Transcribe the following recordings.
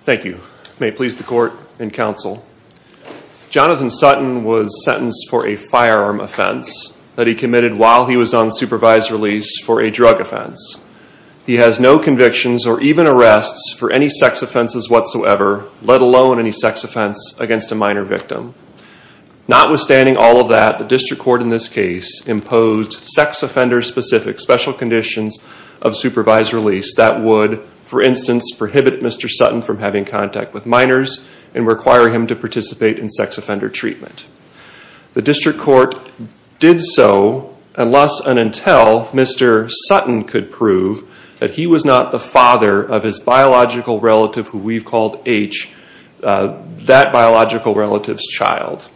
Thank you. May it please the court and counsel. Jonathan Sutton was sentenced for a firearm offense that he committed while he was on supervised release for a drug offense. He has no convictions or even arrests for any sex offenses whatsoever, let alone any sex offense against a minor victim. Notwithstanding all of that, the district court in this case imposed sex offender-specific special having contact with minors and requiring him to participate in sex offender treatment. The district court did so unless and until Mr. Sutton could prove that he was not the father of his biological relative who we've called H, that biological relative's child.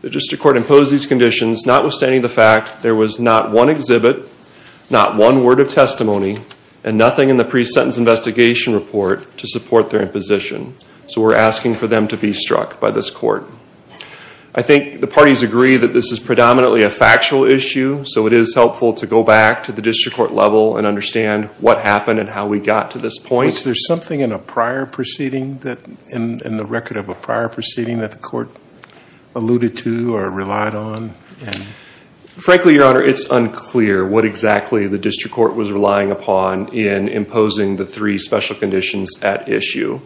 The district court imposed these conditions notwithstanding the fact there was not one exhibit, not one word of testimony, and nothing in the pre-sentence investigation report to support their imposition. So we're asking for them to be struck by this court. I think the parties agree that this is predominantly a factual issue, so it is helpful to go back to the district court level and understand what happened and how we got to this point. Judge Goldberg Was there something in the record of a prior proceeding that the court alluded to or relied on? Frankly, Your Honor, it's unclear what exactly the district court was relying upon in imposing the three special conditions at issue.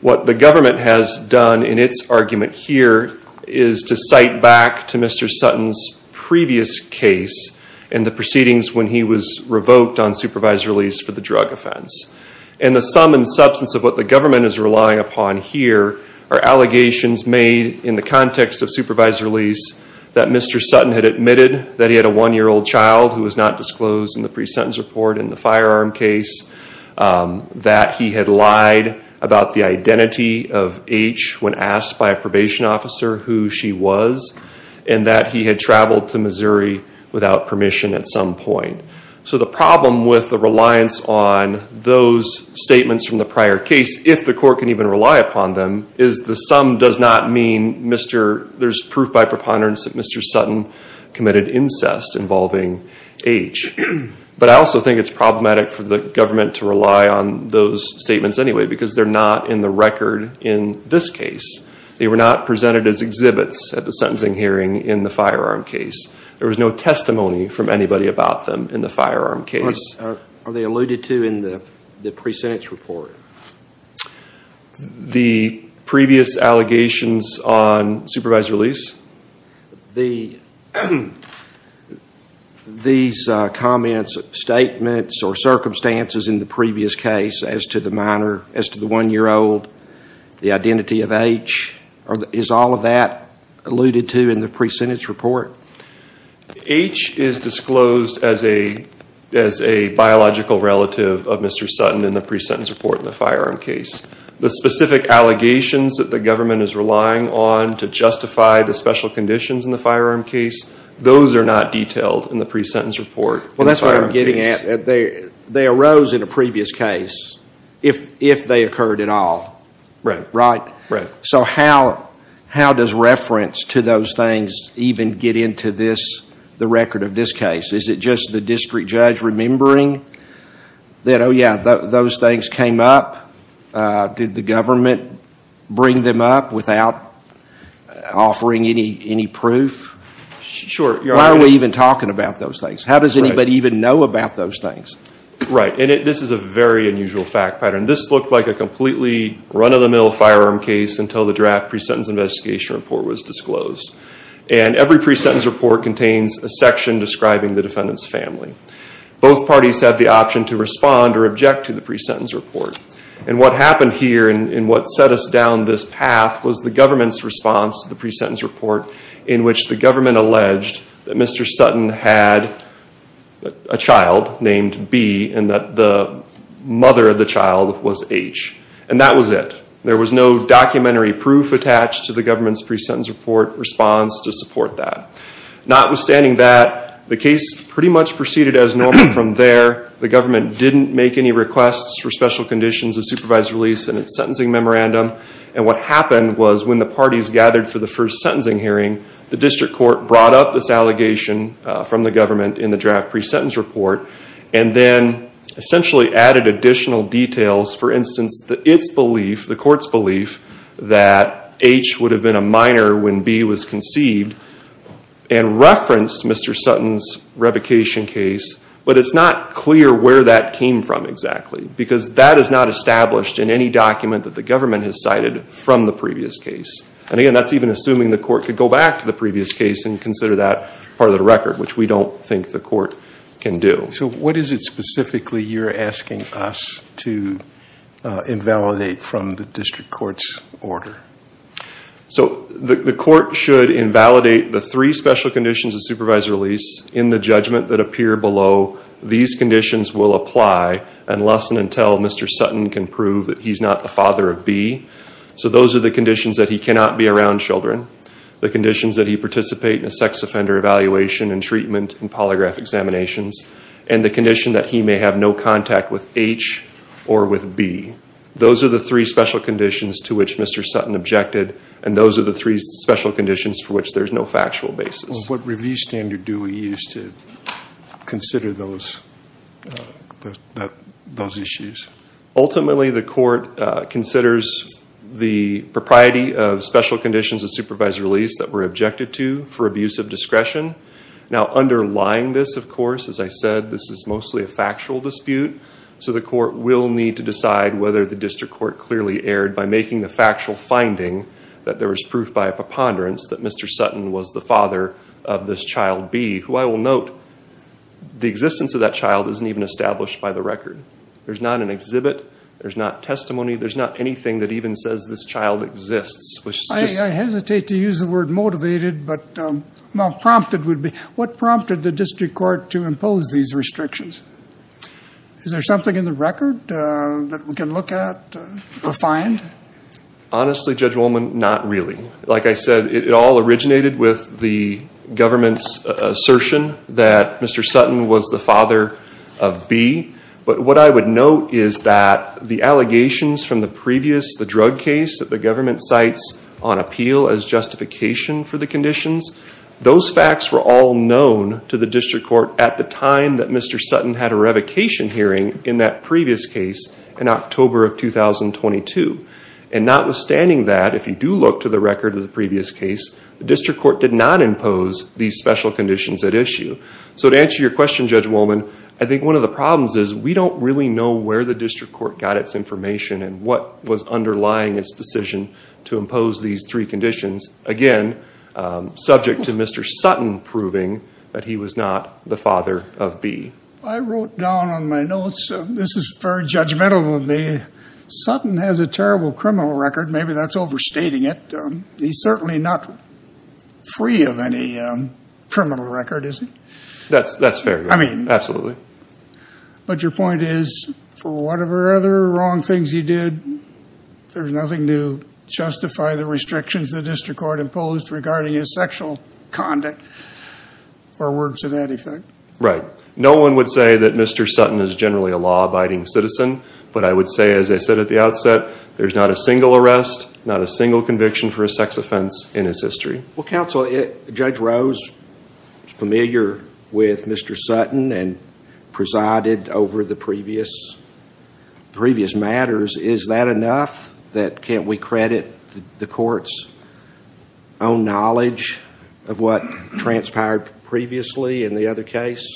What the government has done in its argument here is to cite back to Mr. Sutton's previous case and the proceedings when he was revoked on supervisory release for the drug offense. And the sum and substance of what the government is relying upon here are allegations made in context of supervisory release that Mr. Sutton had admitted that he had a one-year-old child who was not disclosed in the pre-sentence report in the firearm case, that he had lied about the identity of H when asked by a probation officer who she was, and that he had traveled to Missouri without permission at some point. So the problem with the reliance on those statements from the prior case, if the court can even rely upon them, is the sum does not mean there's proof by preponderance that Mr. Sutton committed incest involving H. But I also think it's problematic for the government to rely on those statements anyway because they're not in the record in this case. They were not presented as exhibits at the sentencing hearing in the firearm case. There was no testimony from anybody about them in the firearm case. Are they alluded to in the pre-sentence report? The previous allegations on supervisory release? These comments, statements, or circumstances in the previous case as to the minor, as to the one-year-old, the identity of H, is all of that alluded to in the pre-sentence report? H is disclosed as a biological relative of Mr. Sutton in the pre-sentence report in the firearm case. The specific allegations that the government is relying on to justify the special conditions in the firearm case, those are not detailed in the pre-sentence report. Well, that's what I'm getting at. They arose in a previous case if they occurred at all, right? Right. So how does reference to those things even get into the record of this case? Is it just the district judge remembering that, oh yeah, those things came up? Did the government bring them up without offering any proof? Sure. Why are we even talking about those things? How does anybody even know about those things? Right. And this is a very unusual fact pattern. This looked like a completely run-of-the-mill firearm case until the draft pre-sentence investigation report was disclosed. And every pre-sentence report contains a section describing the defendant's family. Both parties have the option to respond or object to the pre-sentence report. And what happened here and what set us down this path was the government's response to the pre-sentence report in which the government alleged that Mr. Sutton had a child named B and that the mother of the child was H. And that was it. There was no documentary proof attached to the government's pre-sentence report response to support that. Notwithstanding that, the case pretty much proceeded as normal from there. The government didn't make any requests for special conditions of supervised release in its sentencing memorandum. And what happened was when the parties gathered for the first sentencing hearing, the district court brought up this allegation from the government in the draft pre-sentence report and then essentially added additional details. For instance, the court's belief that H would have been a minor when B was conceived and referenced Mr. Sutton's revocation case. But it's not clear where that came from exactly because that is not established in any document that the government has cited from the previous case. And again, that's even assuming the court could go back to the previous case and consider that part of the record, which we don't think the court can do. So what is it specifically you're asking us to invalidate from the district court's order? So the court should invalidate the three special conditions of supervised release in the judgment that appear below. These conditions will apply unless and until Mr. Sutton can prove that he's not the father of B. So those are the conditions that he cannot be around children, the conditions that he participate in a sex offender evaluation and treatment and polygraph examinations, and the condition that he may have no contact with H or with B. Those are the three special conditions to which Mr. Sutton objected. And those are the three special conditions for which there's no factual basis. What release standard do we use to consider those issues? Ultimately, the court considers the propriety of special conditions of supervised release that were objected to for abuse of discretion. Now underlying this, of course, as I said, this is mostly a factual dispute. So the court will need to decide whether the district court clearly erred by making the father of this child B, who I will note, the existence of that child isn't even established by the record. There's not an exhibit. There's not testimony. There's not anything that even says this child exists. I hesitate to use the word motivated, but well, prompted would be. What prompted the district court to impose these restrictions? Is there something in the record that we can look at or find? Honestly, Judge Woolman, not really. Like I said, it all originated with the government's assertion that Mr. Sutton was the father of B. But what I would note is that the allegations from the previous, the drug case that the government cites on appeal as justification for the conditions, those facts were all known to the district court at the time that Mr. Sutton had a revocation hearing in that previous case in October of 2022. And notwithstanding that, if you do look to the record of the previous case, the district court did not impose these special conditions at issue. So to answer your question, Judge Woolman, I think one of the problems is we don't really know where the district court got its information and what was underlying its decision to impose these three conditions. Again, subject to Mr. Sutton proving that he was not the father of B. I wrote down on my notes, this is very judgmental of me. Sutton has a terrible criminal record. Maybe that's overstating it. He's certainly not free of any criminal record, is he? That's fair. I mean- Absolutely. But your point is for whatever other wrong things he did, there's nothing to justify the restrictions the district court imposed regarding his sexual conduct or words to that effect. Right. No one would say that Mr. Sutton is generally a law-abiding citizen, but I would say, as I said at the outset, there's not a single arrest, not a single conviction for a sex offense in his history. Well, counsel, Judge Rose is familiar with Mr. Sutton and presided over the previous matters. Is that enough that can't we credit the court's own knowledge of what transpired previously in the other case?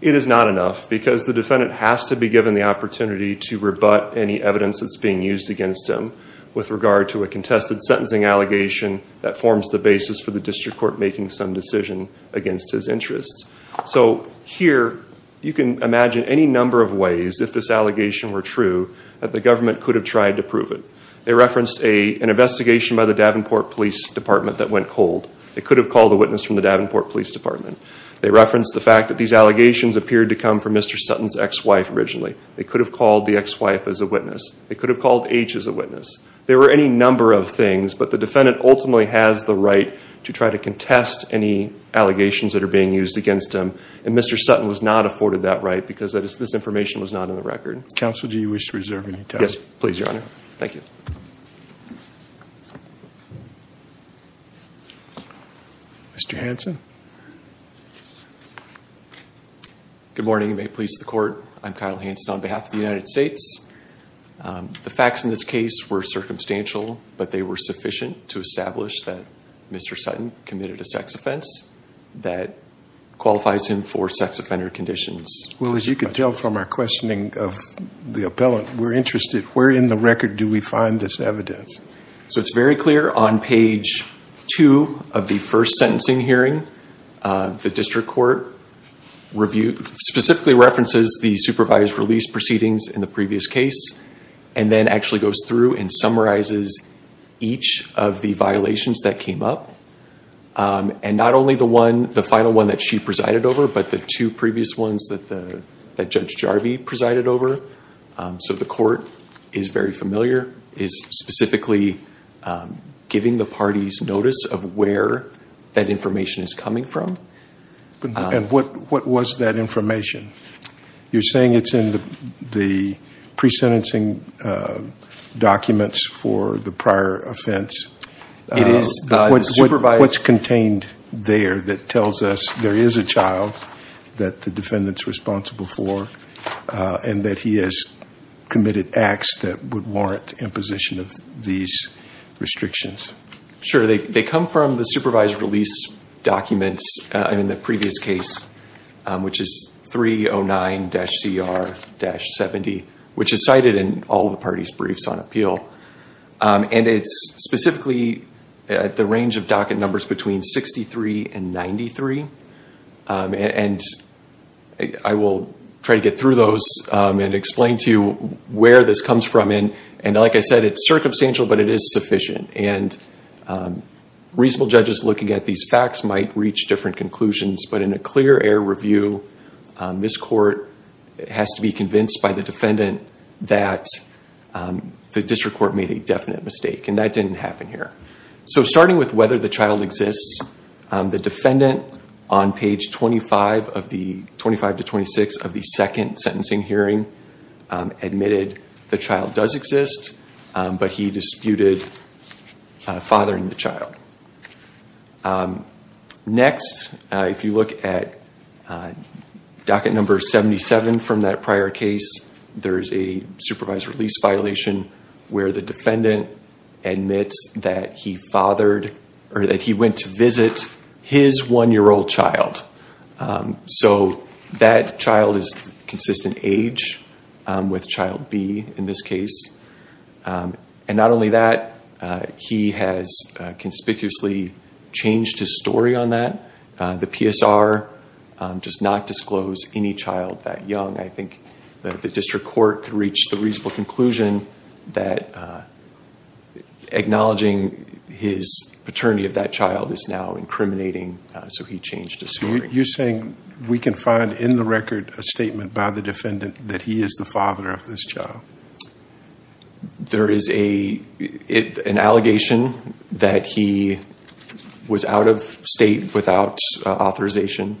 It is not enough because the defendant has to be given the opportunity to rebut any evidence that's being used against him with regard to a contested sentencing allegation that forms the basis for the district court making some decision against his interests. So here, you can imagine any number of ways, if this allegation were true, that the government could have tried to prove it. They referenced an investigation by the Davenport Police Department that went cold. They could have called a witness from the Davenport Police Department. They referenced the fact that these allegations appeared to come from Mr. Sutton's ex-wife originally. They could have called the ex-wife as a witness. They could have called H as a witness. There were any number of things, but the defendant ultimately has the right to try to contest any allegations that are being used against him, and Mr. Sutton was not afforded that right because this information was not in the record. Counsel, do you wish to reserve any time? Yes, please, Your Honor. Thank you. Mr. Hanson? Good morning, and may it please the court. I'm Kyle Hanson on behalf of the United States. The facts in this case were circumstantial, but they were sufficient to establish that Mr. Sutton committed a sex offense that qualifies him for sex offender conditions. Well, as you can tell from our questioning of the appellant, we're interested, where in the record do we find this evidence? So it's very clear on page two of the first sentencing hearing, the district court specifically references the supervised release proceedings in the previous case, and then actually goes through and summarizes each of the violations that came up, and not only the final one that she presided over, but the two previous ones that Judge Jarvie presided over. So the court is very familiar, is specifically giving the parties notice of where that information is coming from. And what was that information? You're saying it's in the pre-sentencing documents for the prior offense. It is. What's contained there that tells us there is a child that the defendant's responsible for, and that he has committed acts that would warrant imposition of these restrictions? Sure. They come from the supervised release documents in the previous case, which is 309-CR-70, which is cited in all the parties' briefs on appeal. And it's specifically at the range of docket numbers between 63 and 93. And I will try to get through those and explain to you where this comes from. And like I said, it's circumstantial, but it is sufficient. And reasonable judges looking at these facts might reach different conclusions. But in a clear air review, this court has to be convinced by the defendant that the district court made a definite mistake. And that didn't happen here. So starting with whether the child exists, the defendant on page 25 to 26 of the second sentencing hearing admitted the child does exist, but he disputed fathering the child. Next, if you look at docket number 77 from that prior case, there is a supervised release violation where the defendant admits that he fathered, or that he went to visit his one-year-old child. So that child is consistent age with child B in this case. And not only that, he has conspicuously changed his story on that. The PSR does not disclose any child that young. I think the district court can reach the reasonable conclusion that acknowledging his paternity of that child is now incriminating. So he changed his story. You're saying we can find in the record a statement by the defendant that he is the father of this child? There is an allegation that he was out of state without authorization.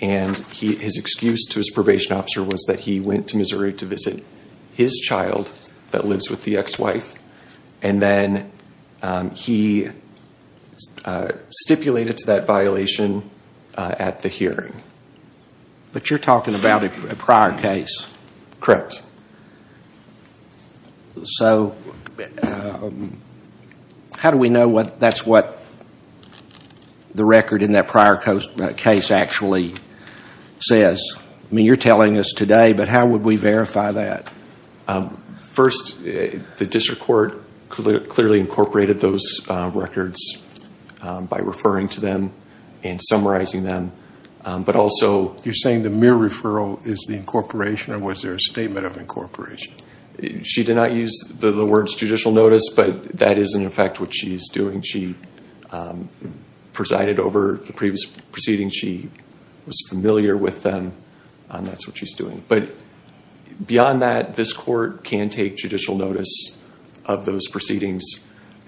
And his excuse to his probation officer was that he went to Missouri to visit his child that lives with the ex-wife. And then he stipulated to that violation at the hearing. But you're talking about a prior case? Correct. So, how do we know that's what the record in that prior case actually says? You're telling us today, but how would we verify that? First, the district court clearly incorporated those records by referring to them and summarizing them. But also, you're saying the mere referral is the incorporation? Or was there a statement of incorporation? She did not use the words judicial notice, but that is in effect what she is doing. She presided over the previous proceedings. She was familiar with them, and that's what she's doing. But beyond that, this court can take judicial notice of those proceedings.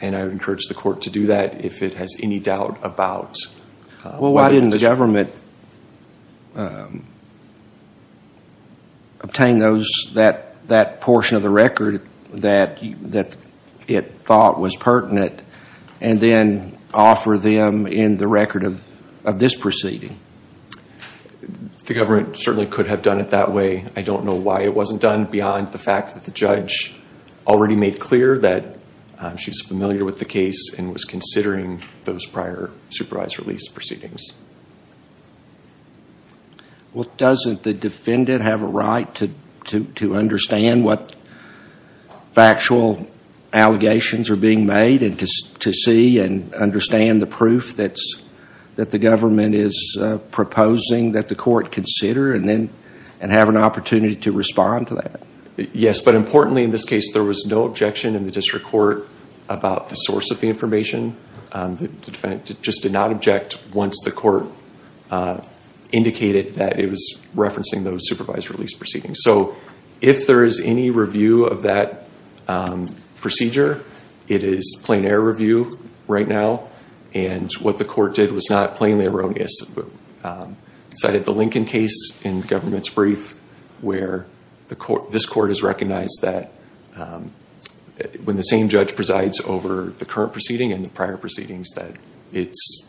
And I would encourage the court to do that if it has any doubt about- Well, why didn't the government obtain that portion of the record that it thought was pertinent, and then offer them in the record of this proceeding? The government certainly could have done it that way. I don't know why it wasn't done beyond the fact that the judge already made clear that she's familiar with the case and was considering those prior supervised release proceedings. Well, doesn't the defendant have a right to understand what factual allegations are being made, and to see and understand the proof that the government is proposing that the court consider, and have an opportunity to respond to that? Yes, but importantly in this case, there was no objection in the district court about the source of the information. The defendant just did not object once the court indicated that it was referencing those supervised release proceedings. So if there is any review of that procedure, it is plain error review right now. And what the court did was not plainly erroneous. It cited the Lincoln case in the government's brief, where this court has recognized that when the same judge presides over the current proceeding and the prior proceedings, that it's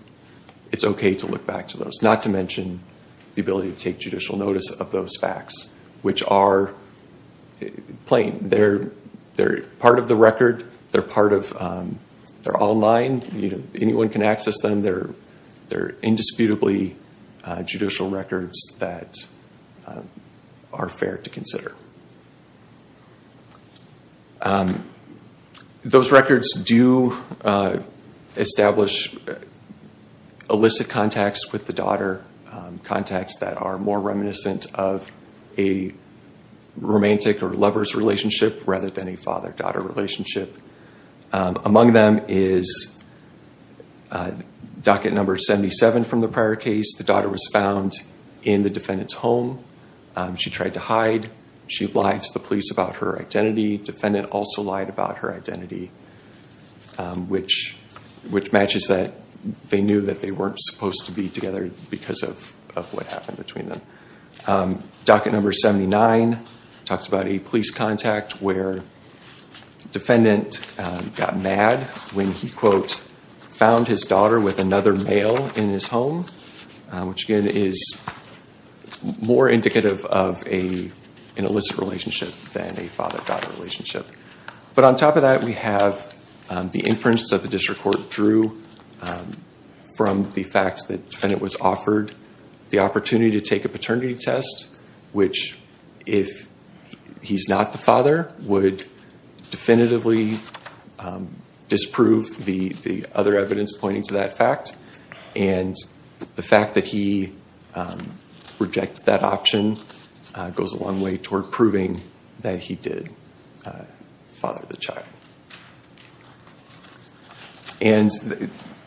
okay to look back to those. Not to mention the ability to take judicial notice of those facts, which are plain. They're part of the record. They're online. Anyone can access them. They're indisputably judicial records that are fair to consider. Those records do establish illicit contacts with the daughter, contacts that are more reminiscent of a romantic or lover's relationship, rather than a father-daughter relationship. Among them is docket number 77 from the prior case. The daughter was found in the defendant's home. She tried to hide. She lied to the police about her identity. Defendant also lied about her identity, which matches that they knew that they weren't supposed to be together because of what happened between them. Docket number 79 talks about a police contact where defendant got mad when he, quote, found his daughter with another male in his home, which again is more indicative of an illicit relationship than a father-daughter relationship. On top of that, we have the inference that the district court drew from the facts that defendant was offered the opportunity to take a paternity test, which if he's not the father would definitively disprove the other evidence pointing to that fact. The fact that he rejected that option goes a long way toward proving that he did father the child.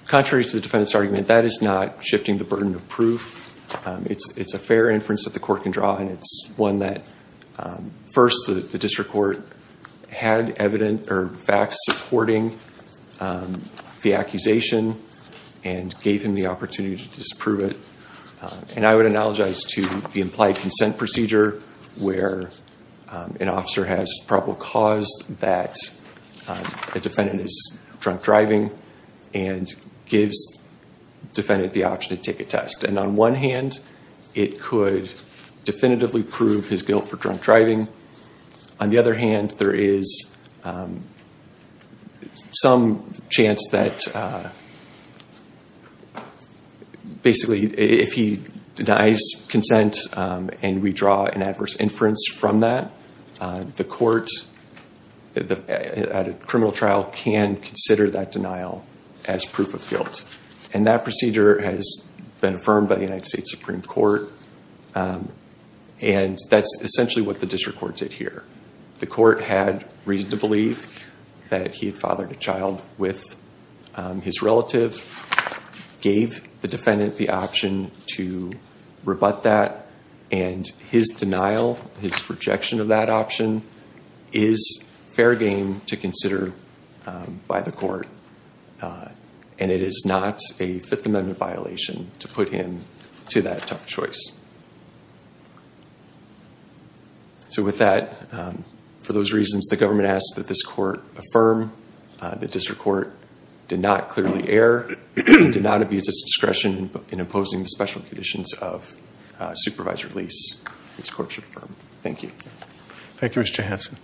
Contrary to the defendant's argument, that is not shifting the burden of proof. It's a fair inference that the court can draw, and it's one that, first, the district court had facts supporting the accusation and gave him the opportunity to disprove it. I would apologize to the implied consent procedure, where an officer has probable cause that the defendant is drunk driving and gives defendant the option to take a test. On one hand, it could definitively prove his guilt for drunk driving. On the other hand, there is some chance that, basically, if he denies consent and we draw an adverse inference from that, the court at a criminal trial can consider that denial as proof of guilt. And that procedure has been affirmed by the United States Supreme Court, and that's essentially what the district court did here. The court had reason to believe that he had fathered a child with his relative, gave the his rejection of that option is fair game to consider by the court. And it is not a Fifth Amendment violation to put him to that tough choice. So with that, for those reasons, the government asks that this court affirm. The district court did not clearly err, did not abuse its discretion in opposing the special conditions of supervised release. This court should affirm. Thank you. Thank you, Mr. Hanson.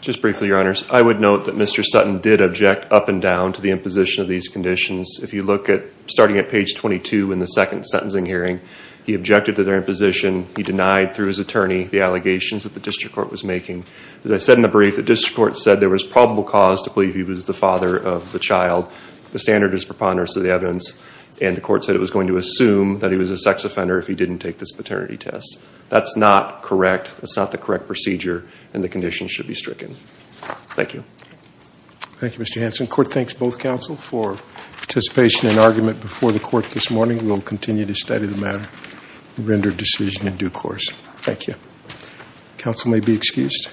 Just briefly, your honors, I would note that Mr. Sutton did object up and down to the imposition of these conditions. If you look at starting at page 22 in the second sentencing hearing, he objected to their imposition. He denied through his attorney the allegations that the district court was making. As I said in the brief, the district court said there was probable cause to believe he was the father of the child. The standard is preponderance of the evidence, and the court said it was going to assume that he was a sex offender if he didn't take this paternity test. That's not correct. That's not the correct procedure, and the conditions should be stricken. Thank you. Thank you, Mr. Hanson. Court thanks both counsel for participation and argument before the court this morning. We will continue to study the matter and render decision in due course. Thank you. Counsel may be excused.